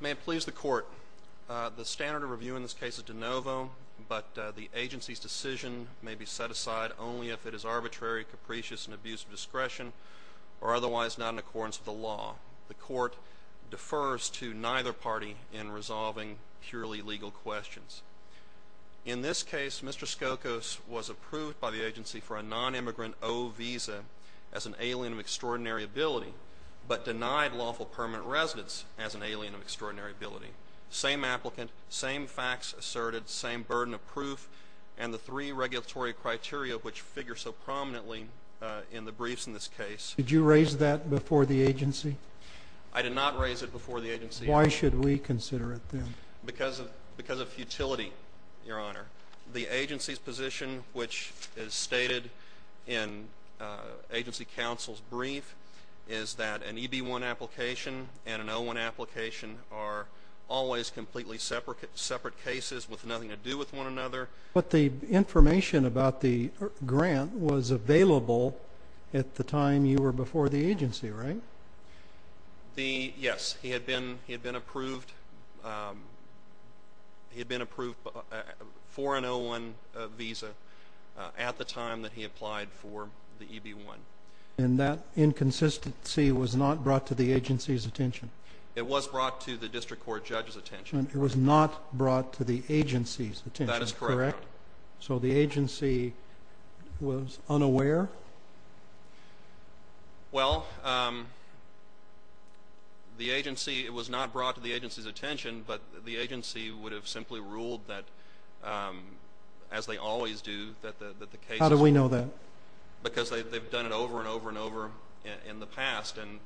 May it please the Court, the standard of review in this case is de novo, but the agency's decision may be set aside only if it is arbitrary, capricious, and abuse of discretion, or otherwise not in accordance with the law. The Court defers to neither party in resolving purely legal questions. In this case, Mr. Skokos was approved by the agency for a non-immigrant O visa as an alien of extraordinary ability, but denied lawful permanent residence as an alien of extraordinary ability. Same applicant, same facts asserted, same burden of proof, and the three regulatory criteria which figure so prominently in the briefs in this case. Did you raise that before the agency? I did not raise it before the agency. Why should we consider it then? Because of futility, Your Honor. The agency's position, which is in agency counsel's brief, is that an EB-1 application and an O-1 application are always completely separate cases with nothing to do with one another. But the information about the grant was available at the time you were before the agency, right? Yes, he had been before the EB-1. And that inconsistency was not brought to the agency's attention? It was brought to the district court judge's attention. It was not brought to the agency's attention, correct? That is correct, Your Honor. So the agency was unaware? Well, the agency, it was not brought to the agency's attention, but the agency would have simply ruled that, as they always do, that the cases... How do we know that? Because they've done it over and over and over in the past, and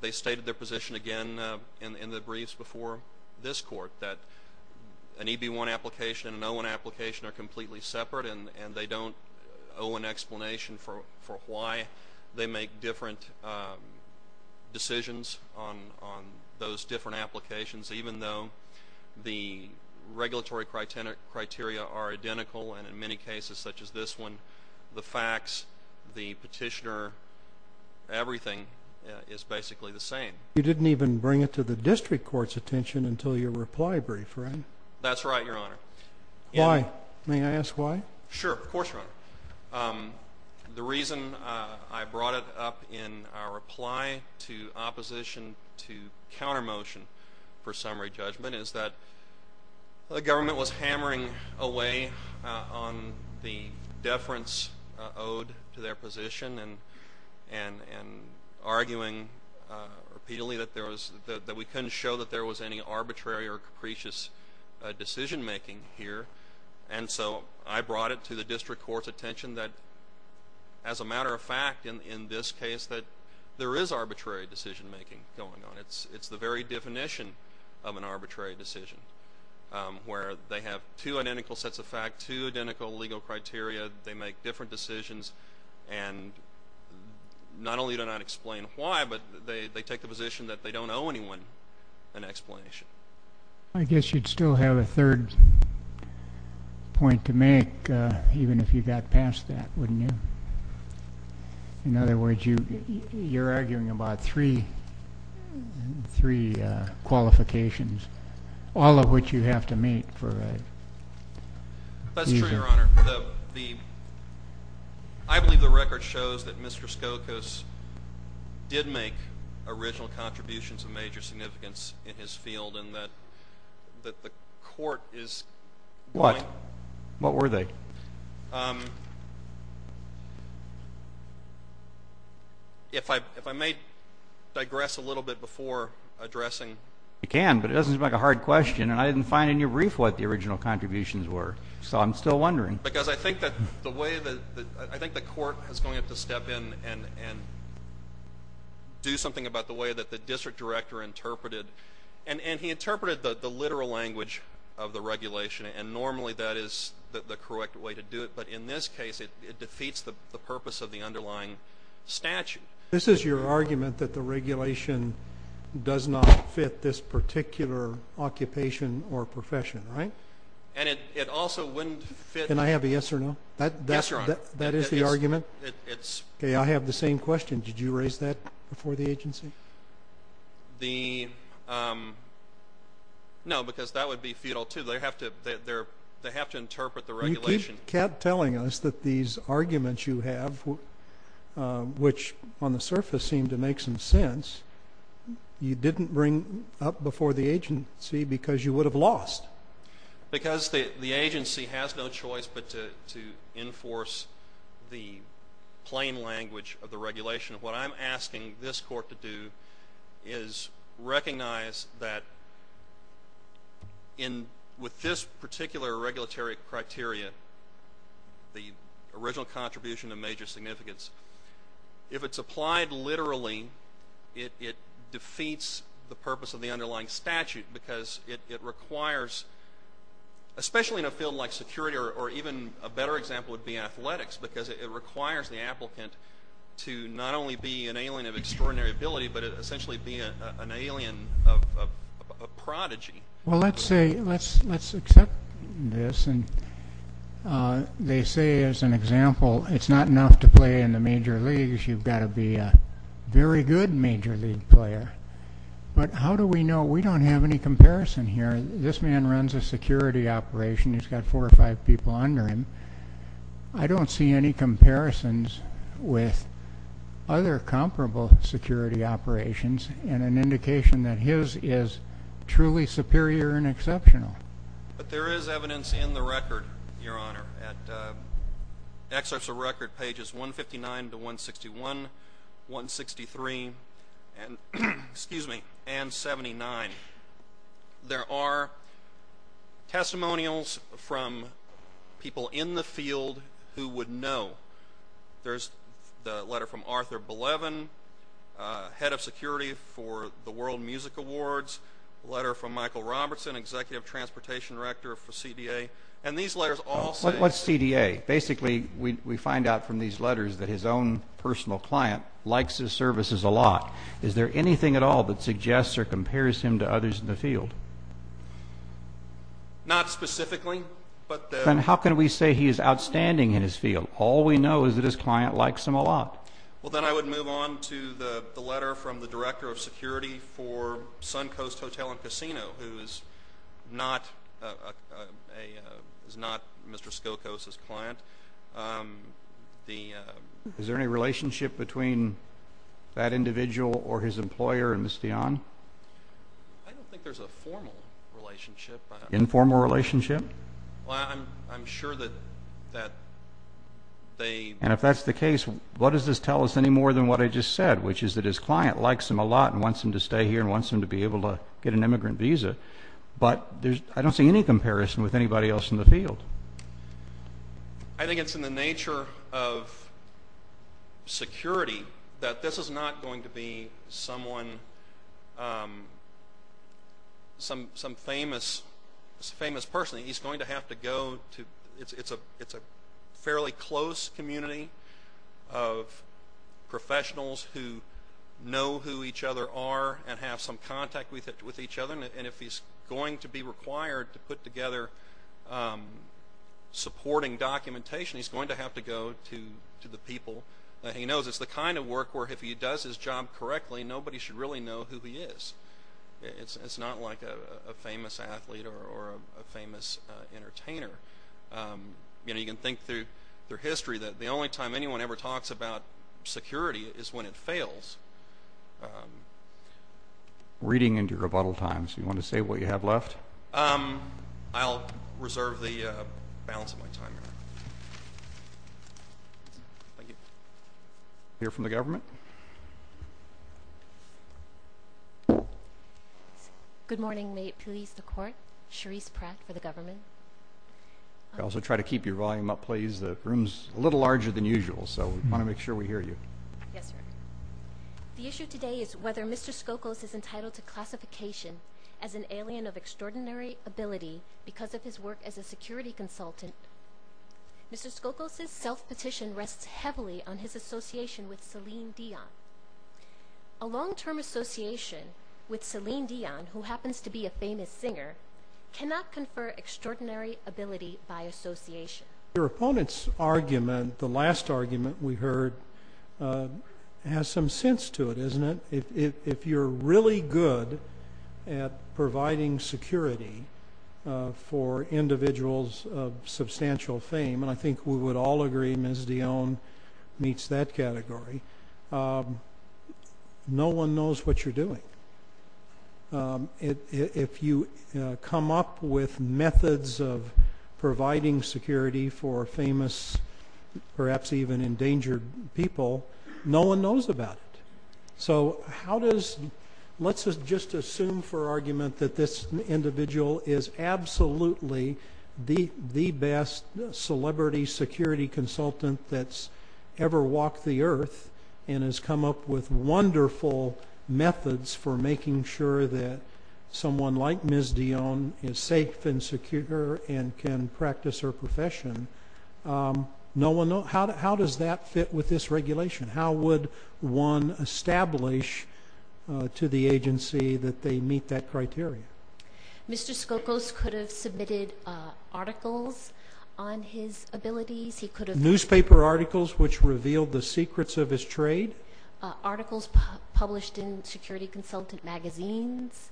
they stated their position again in the briefs before this court, that an EB-1 application and an O-1 application are completely separate, and they don't owe an explanation for why they make different decisions on those different cases. The regulatory criteria are identical, and in many cases such as this one, the facts, the petitioner, everything is basically the same. You didn't even bring it to the district court's attention until your reply brief, right? That's right, Your Honor. Why? May I ask why? Sure, of course, Your Honor. The reason I brought it up in our reply to opposition to counter-motion for summary judgment is that the government was hammering away on the deference owed to their position and arguing repeatedly that we couldn't show that there was any arbitrary or capricious decision-making here, and so I brought it to the district court's attention that, as a matter of fact, in this case, that there is arbitrary decision-making. It's the very definition of an arbitrary decision, where they have two identical sets of facts, two identical legal criteria, they make different decisions, and not only do not explain why, but they take the position that they don't owe anyone an explanation. I guess you'd still have a third point to make, even if you got past that, wouldn't you? In other words, you're three qualifications, all of which you have to meet for a... That's true, Your Honor. I believe the record shows that Mr. Skokos did make original contributions of major significance in his field, and that the court is... What? What were they? If I may digress a little bit before addressing... You can, but it doesn't seem like a hard question, and I didn't find in your brief what the original contributions were, so I'm still wondering. Because I think that the way that... I think the court is going to have to step in and do something about the way that the district director interpreted... And he interpreted the literal language of the regulation, and normally that is the correct way to do it, but in this case, it defeats the purpose of the underlying statute. This is your argument that the regulation does not fit this particular occupation or profession, right? And it also wouldn't fit... Can I have a yes or no? Yes, Your Honor. That is the argument? Okay, I have the same question. Did you raise that before the agency? The... No, because that would be futile, too. They have to interpret the regulation... You keep telling us that these arguments you have, which on the surface seem to make some sense, you didn't bring up before the agency because you would have lost. Because the agency has no choice but to enforce the plain language of the regulation. What I'm recognizing is that with this particular regulatory criteria, the original contribution of major significance, if it's applied literally, it defeats the purpose of the underlying statute because it requires, especially in a field like security or even a better example would be athletics, because it requires the applicant to not only be an alien of extraordinary ability, but essentially be an alien of a prodigy. Well, let's say... Let's accept this. And they say, as an example, it's not enough to play in the major leagues. You've got to be a very good major league player. But how do we know? We don't have any comparison here. This man runs a security operation. He's got four or five people under him. I don't see any comparisons with other comparable security operations and an indication that his is truly superior and exceptional. But there is evidence in the record, Your Honor, at excerpts of record pages 159 to 161, 163, excuse me, and 179, there are testimonials from people in the field who would know. There's the letter from Arthur Belevin, head of security for the World Music Awards, letter from Michael Robertson, executive transportation director for CDA. And these letters all say... What's CDA? Basically, we find out from these letters that his own client likes his services a lot. Is there anything at all that suggests or compares him to others in the field? Not specifically, but... And how can we say he is outstanding in his field? All we know is that his client likes him a lot. Well, then I would move on to the letter from the director of security for Suncoast Hotel and between that individual or his employer and Ms. Dionne? I don't think there's a formal relationship. Informal relationship? Well, I'm sure that they... And if that's the case, what does this tell us any more than what I just said, which is that his client likes him a lot and wants him to stay here and wants him to be able to get an immigrant visa. But I don't see any comparison with anybody else in the field. I think it's in the nature of security that this is not going to be someone... Some famous person. He's going to have to go to... It's a fairly close community of professionals who know who each other are and have some contact with each other. And if he's going to be required to put together supporting documentation, he's going to have to go to the people that he knows. It's the kind of work where if he does his job correctly, nobody should really know who he is. It's not like a famous athlete or a famous entertainer. You can think through their history that the only time anyone ever talks about security is when it fails. I'm reading into your rebuttal time, so you want to say what you have left? I'll reserve the balance of my time here. Thank you. Hear from the government? Good morning. May it please the court. Cherise Pratt for the government. I also try to keep your volume up, please. The room's a little larger than usual, so we want to make sure we hear you. Yes, sir. The issue today is whether Mr. Skokos is entitled to classification as an alien of extraordinary ability because of his work as a security consultant. Mr. Skokos' self-petition rests heavily on his association with Celine Dion. A long-term association with Celine Dion, who happens to be a famous singer, cannot confer extraordinary ability by association. Your opponent's argument, the last argument we heard, has some sense to it, doesn't it? If you're really good at providing security for individuals of substantial fame, and I think we would all agree Ms. Dion meets that category, no one knows what you're doing. If you come up with methods of providing security for famous, perhaps even endangered people, no one knows about it. Let's just assume for argument that this individual is absolutely the best celebrity security consultant that's ever walked the earth and has come up with wonderful methods for making sure that someone like Ms. Dion is safe and secure and can practice her profession. How does that fit with this regulation? How would one establish to the agency that they meet that criteria? Mr. Skokos could have submitted articles on his abilities. He could have... Articles published in security consultant magazines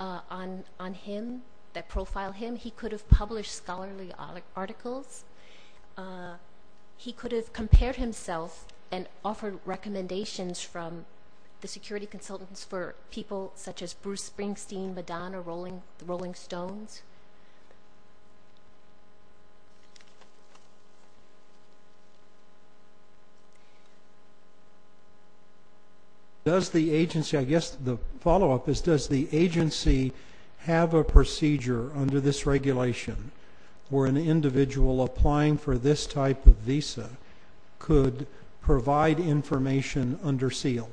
on him, that profile him. He could have published scholarly articles. He could have compared himself and offered recommendations from the security consultants for people such as Bruce Springsteen, Madonna, Rolling Stones. I guess the follow-up is, does the agency have a procedure under this regulation where an individual applying for this type of visa could provide information under SEAL?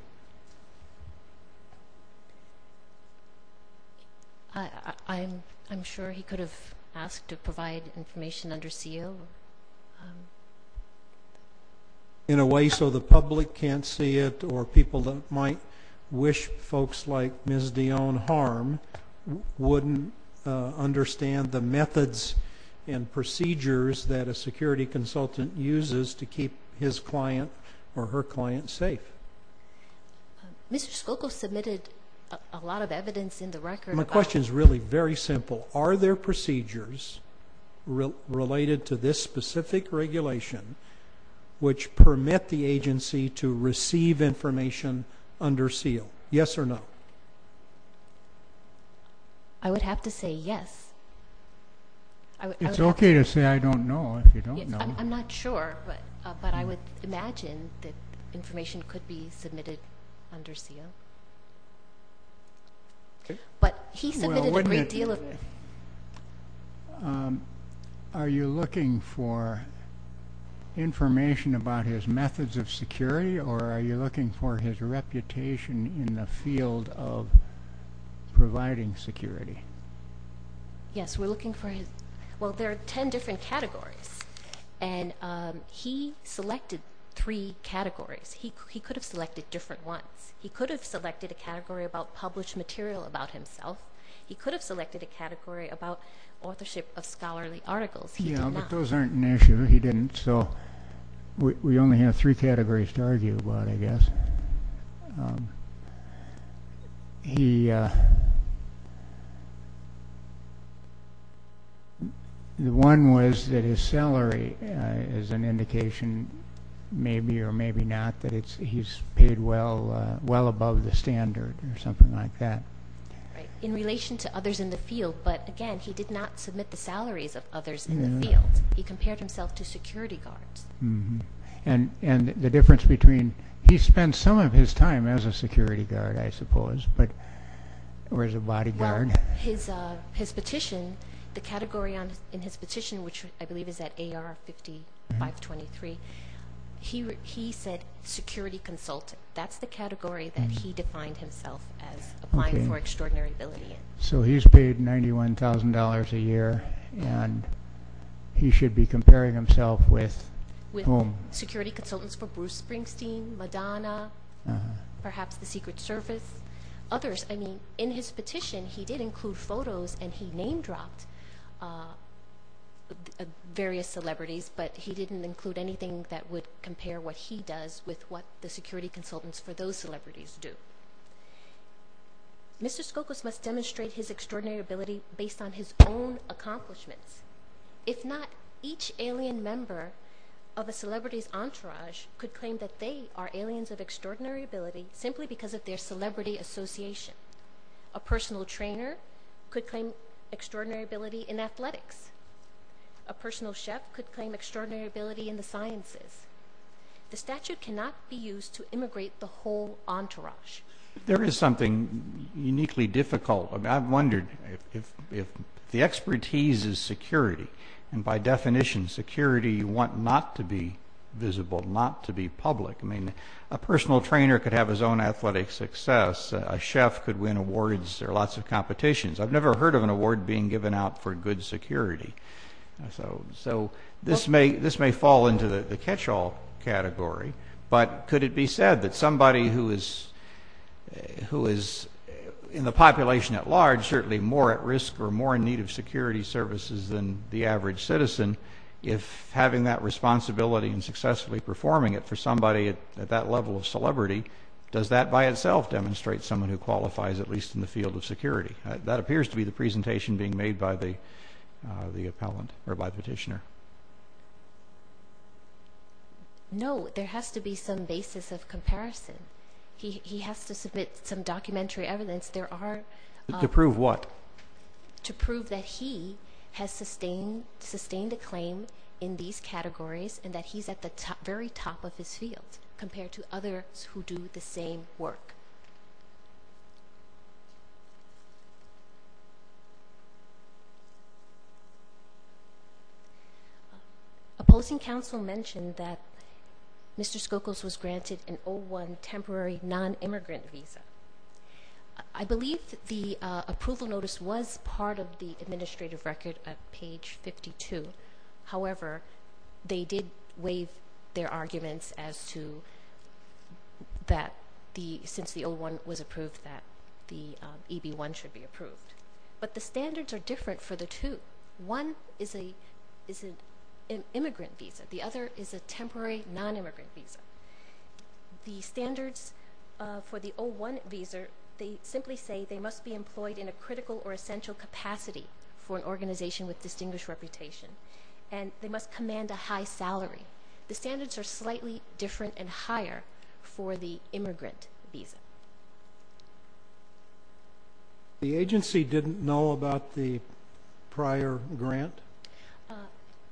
I'm sure he could have asked to provide information under SEAL. In a way so the public can't see it or people that might wish folks like Ms. Dion harm wouldn't understand the methods and procedures that a security consultant uses to keep his client or her client safe. Mr. Skokos submitted a lot of evidence in the record. My question is really simple. Are there procedures related to this specific regulation which permit the agency to receive information under SEAL? Yes or no? I would have to say yes. It's okay to say I don't know if you don't know. I'm not sure, but I would imagine that submitted under SEAL. Are you looking for information about his methods of security or are you looking for his reputation in the field of providing security? Yes. There are 10 different categories. He selected three categories. He could have selected different ones. He could have selected a category about published material about himself. He could have selected a category about authorship of scholarly articles. He did not. Those aren't an issue. He didn't. We only have three categories to argue about, I guess. The one was that his salary is an indication maybe or maybe not that he's paid well above the standard or something like that. Right. In relation to others in the field, but again, he did not submit the salaries of others in the field. He compared himself to security guards. And the difference between he spent some of his time as a security guard, I suppose, or as a bodyguard. His petition, the category in his petition, which I believe is at AR 5523, he said security consultant. That's the category that he defined himself as applying for extraordinary ability. So he's paid $91,000 a year and he should be comparing himself with security consultants for Bruce Springsteen, Madonna, perhaps the Secret Service, others. I mean, in his petition, he did include photos and he named dropped various celebrities, but he didn't include anything that would compare what he does with what the security consultants for those celebrities do. Mr. Skokos must demonstrate his extraordinary ability based on his own accomplishments. If not, each alien member of a celebrity's entourage could claim that they are aliens of extraordinary ability simply because of their celebrity association. A personal trainer could claim extraordinary ability in athletics. A personal chef could claim extraordinary ability in the sciences. The statute cannot be used to immigrate the whole entourage. There is something uniquely difficult. I've wondered if the expertise is security, and by definition, security, you want not to be visible, not to be public. I mean, a personal trainer could have his own athletic success. A chef could win awards. There are lots of competitions. I've never heard of an award being given out for good security. So this may fall into the catch-all category, but could it be said that somebody who is in the population at large, certainly more at risk or more in need of security services than the average citizen, if having that responsibility and successfully performing it for somebody at that level of celebrity, does that by itself demonstrate someone who qualifies at least in the field of security? That appears to be the presentation being made by the petitioner. No, there has to be some basis of comparison. He has to submit some documentary evidence. There are... To prove what? To prove that he has sustained a claim in these categories, and that he's at the very top of his field compared to others who do the same work. Opposing counsel mentioned that Mr. Skokuls was granted an O-1 temporary non-immigrant visa. I believe the approval notice was part of the administrative record at page 52. However, they did waive their arguments as to that since the O-1 was approved that the EB-1 should be approved. But the standards are different for the two. One is an immigrant visa. The other is a temporary non-immigrant visa. The standards for the O-1 visa, they simply say they must be employed in a critical or essential capacity for an organization with distinguished reputation, and they must command a high salary. The standards are slightly different and higher for the immigrant visa. The agency didn't know about the prior grant?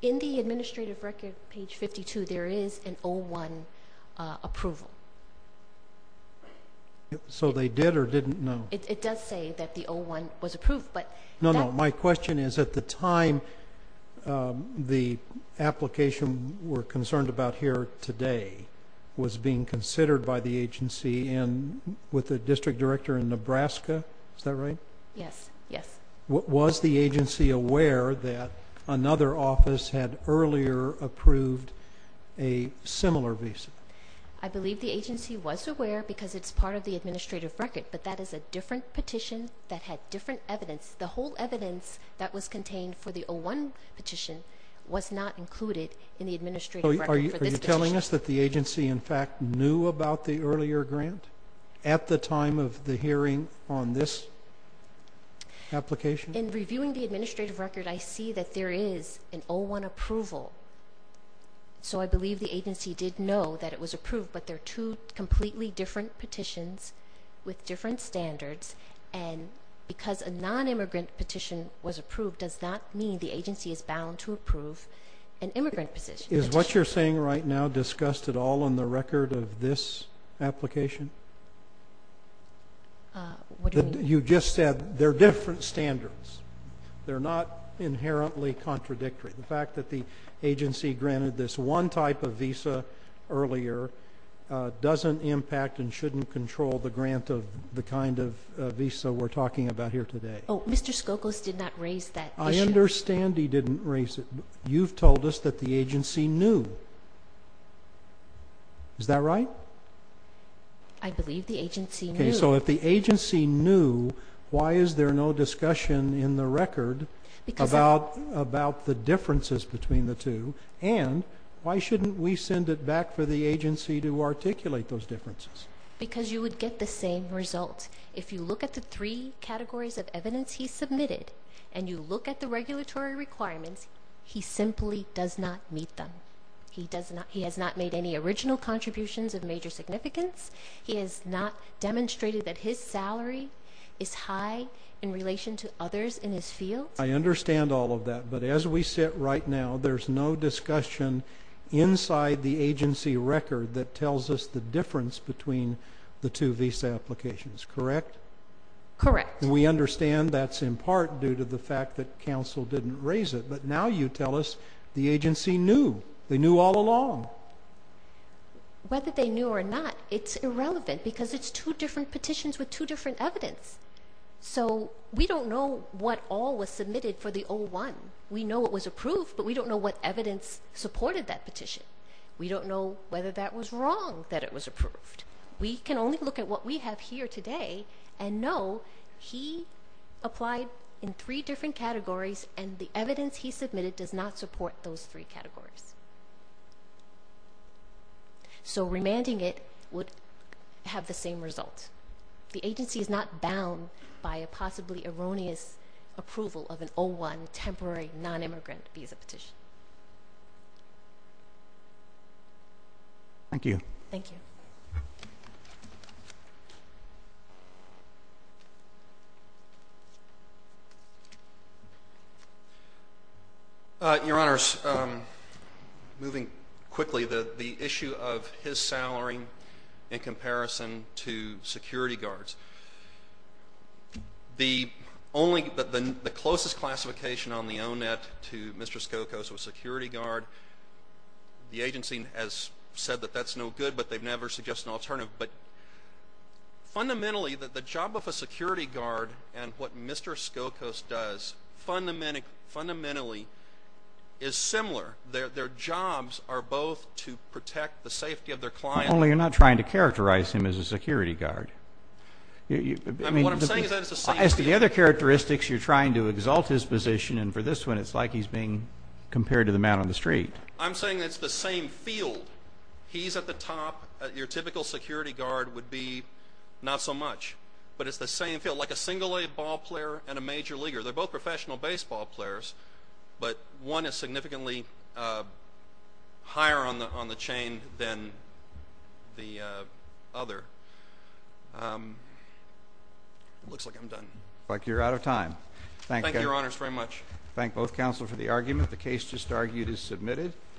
In the administrative record, page 52, there is an O-1 approval. So they did or didn't know? It does say that the O-1 was approved, but... My question is, at the time, the application we're concerned about here today was being considered by the agency and with the district director in Nebraska, is that right? Yes, yes. Was the agency aware that another office had earlier approved a similar visa? I believe the agency was aware because it's part of the administrative record, but that is a different evidence. The whole evidence that was contained for the O-1 petition was not included in the administrative record. Are you telling us that the agency, in fact, knew about the earlier grant at the time of the hearing on this application? In reviewing the administrative record, I see that there is an O-1 approval. So I believe the agency did know that it was approved, but they're two different petitions with different standards, and because a non-immigrant petition was approved does not mean the agency is bound to approve an immigrant petition. Is what you're saying right now discussed at all in the record of this application? What do you mean? You just said they're different standards. They're not inherently contradictory. The fact that the agency granted this one type of visa earlier doesn't impact and shouldn't control the grant of the kind of visa we're talking about here today. Oh, Mr. Skokos did not raise that issue. I understand he didn't raise it. You've told us that the agency knew. Is that right? I believe the agency knew. Okay, so if the agency knew, why is there no discussion in the record about the differences between the and why shouldn't we send it back for the agency to articulate those differences? Because you would get the same results. If you look at the three categories of evidence he submitted and you look at the regulatory requirements, he simply does not meet them. He has not made any original contributions of major significance. He has not demonstrated that his salary is high in relation to others in his field. I understand all of that, but as we sit right now, there's no discussion inside the agency record that tells us the difference between the two visa applications, correct? Correct. We understand that's in part due to the fact that counsel didn't raise it, but now you tell us the agency knew. They knew all along. Whether they knew or not, it's irrelevant because it's two different petitions with two different evidence. We don't know what all was submitted for the O-1. We know it was approved, but we don't know what evidence supported that petition. We don't know whether that was wrong that it was approved. We can only look at what we have here today and know he applied in three different categories and the evidence he submitted does not support those three categories. Remanding it would have the same result. The agency is not bound by a possibly erroneous approval of an O-1 temporary non-immigrant visa petition. Thank you. Your Honors, moving quickly, the issue of his salary in comparison to security guard, the agency has said that's no good, but they've never suggested an alternative. Fundamentally, the job of a security guard and what Mr. Skokos does fundamentally is similar. Their jobs are both to protect the safety of their client. Only you're not trying to characterize him as a security guard. As to the other characteristics, you're trying to exalt his position, and for this one, it's like he's being compared to the man on the street. I'm saying it's the same field. He's at the top. Your typical security guard would be not so much, but it's the same field, like a single-legged ball player and a major leaguer. They're both professional baseball players, but one is significantly higher on the chain than the other. Looks like I'm done. Looks like you're out of time. Thank you, Your Honors, very much. Thank both counsel for the argument. The case just argued is submitted.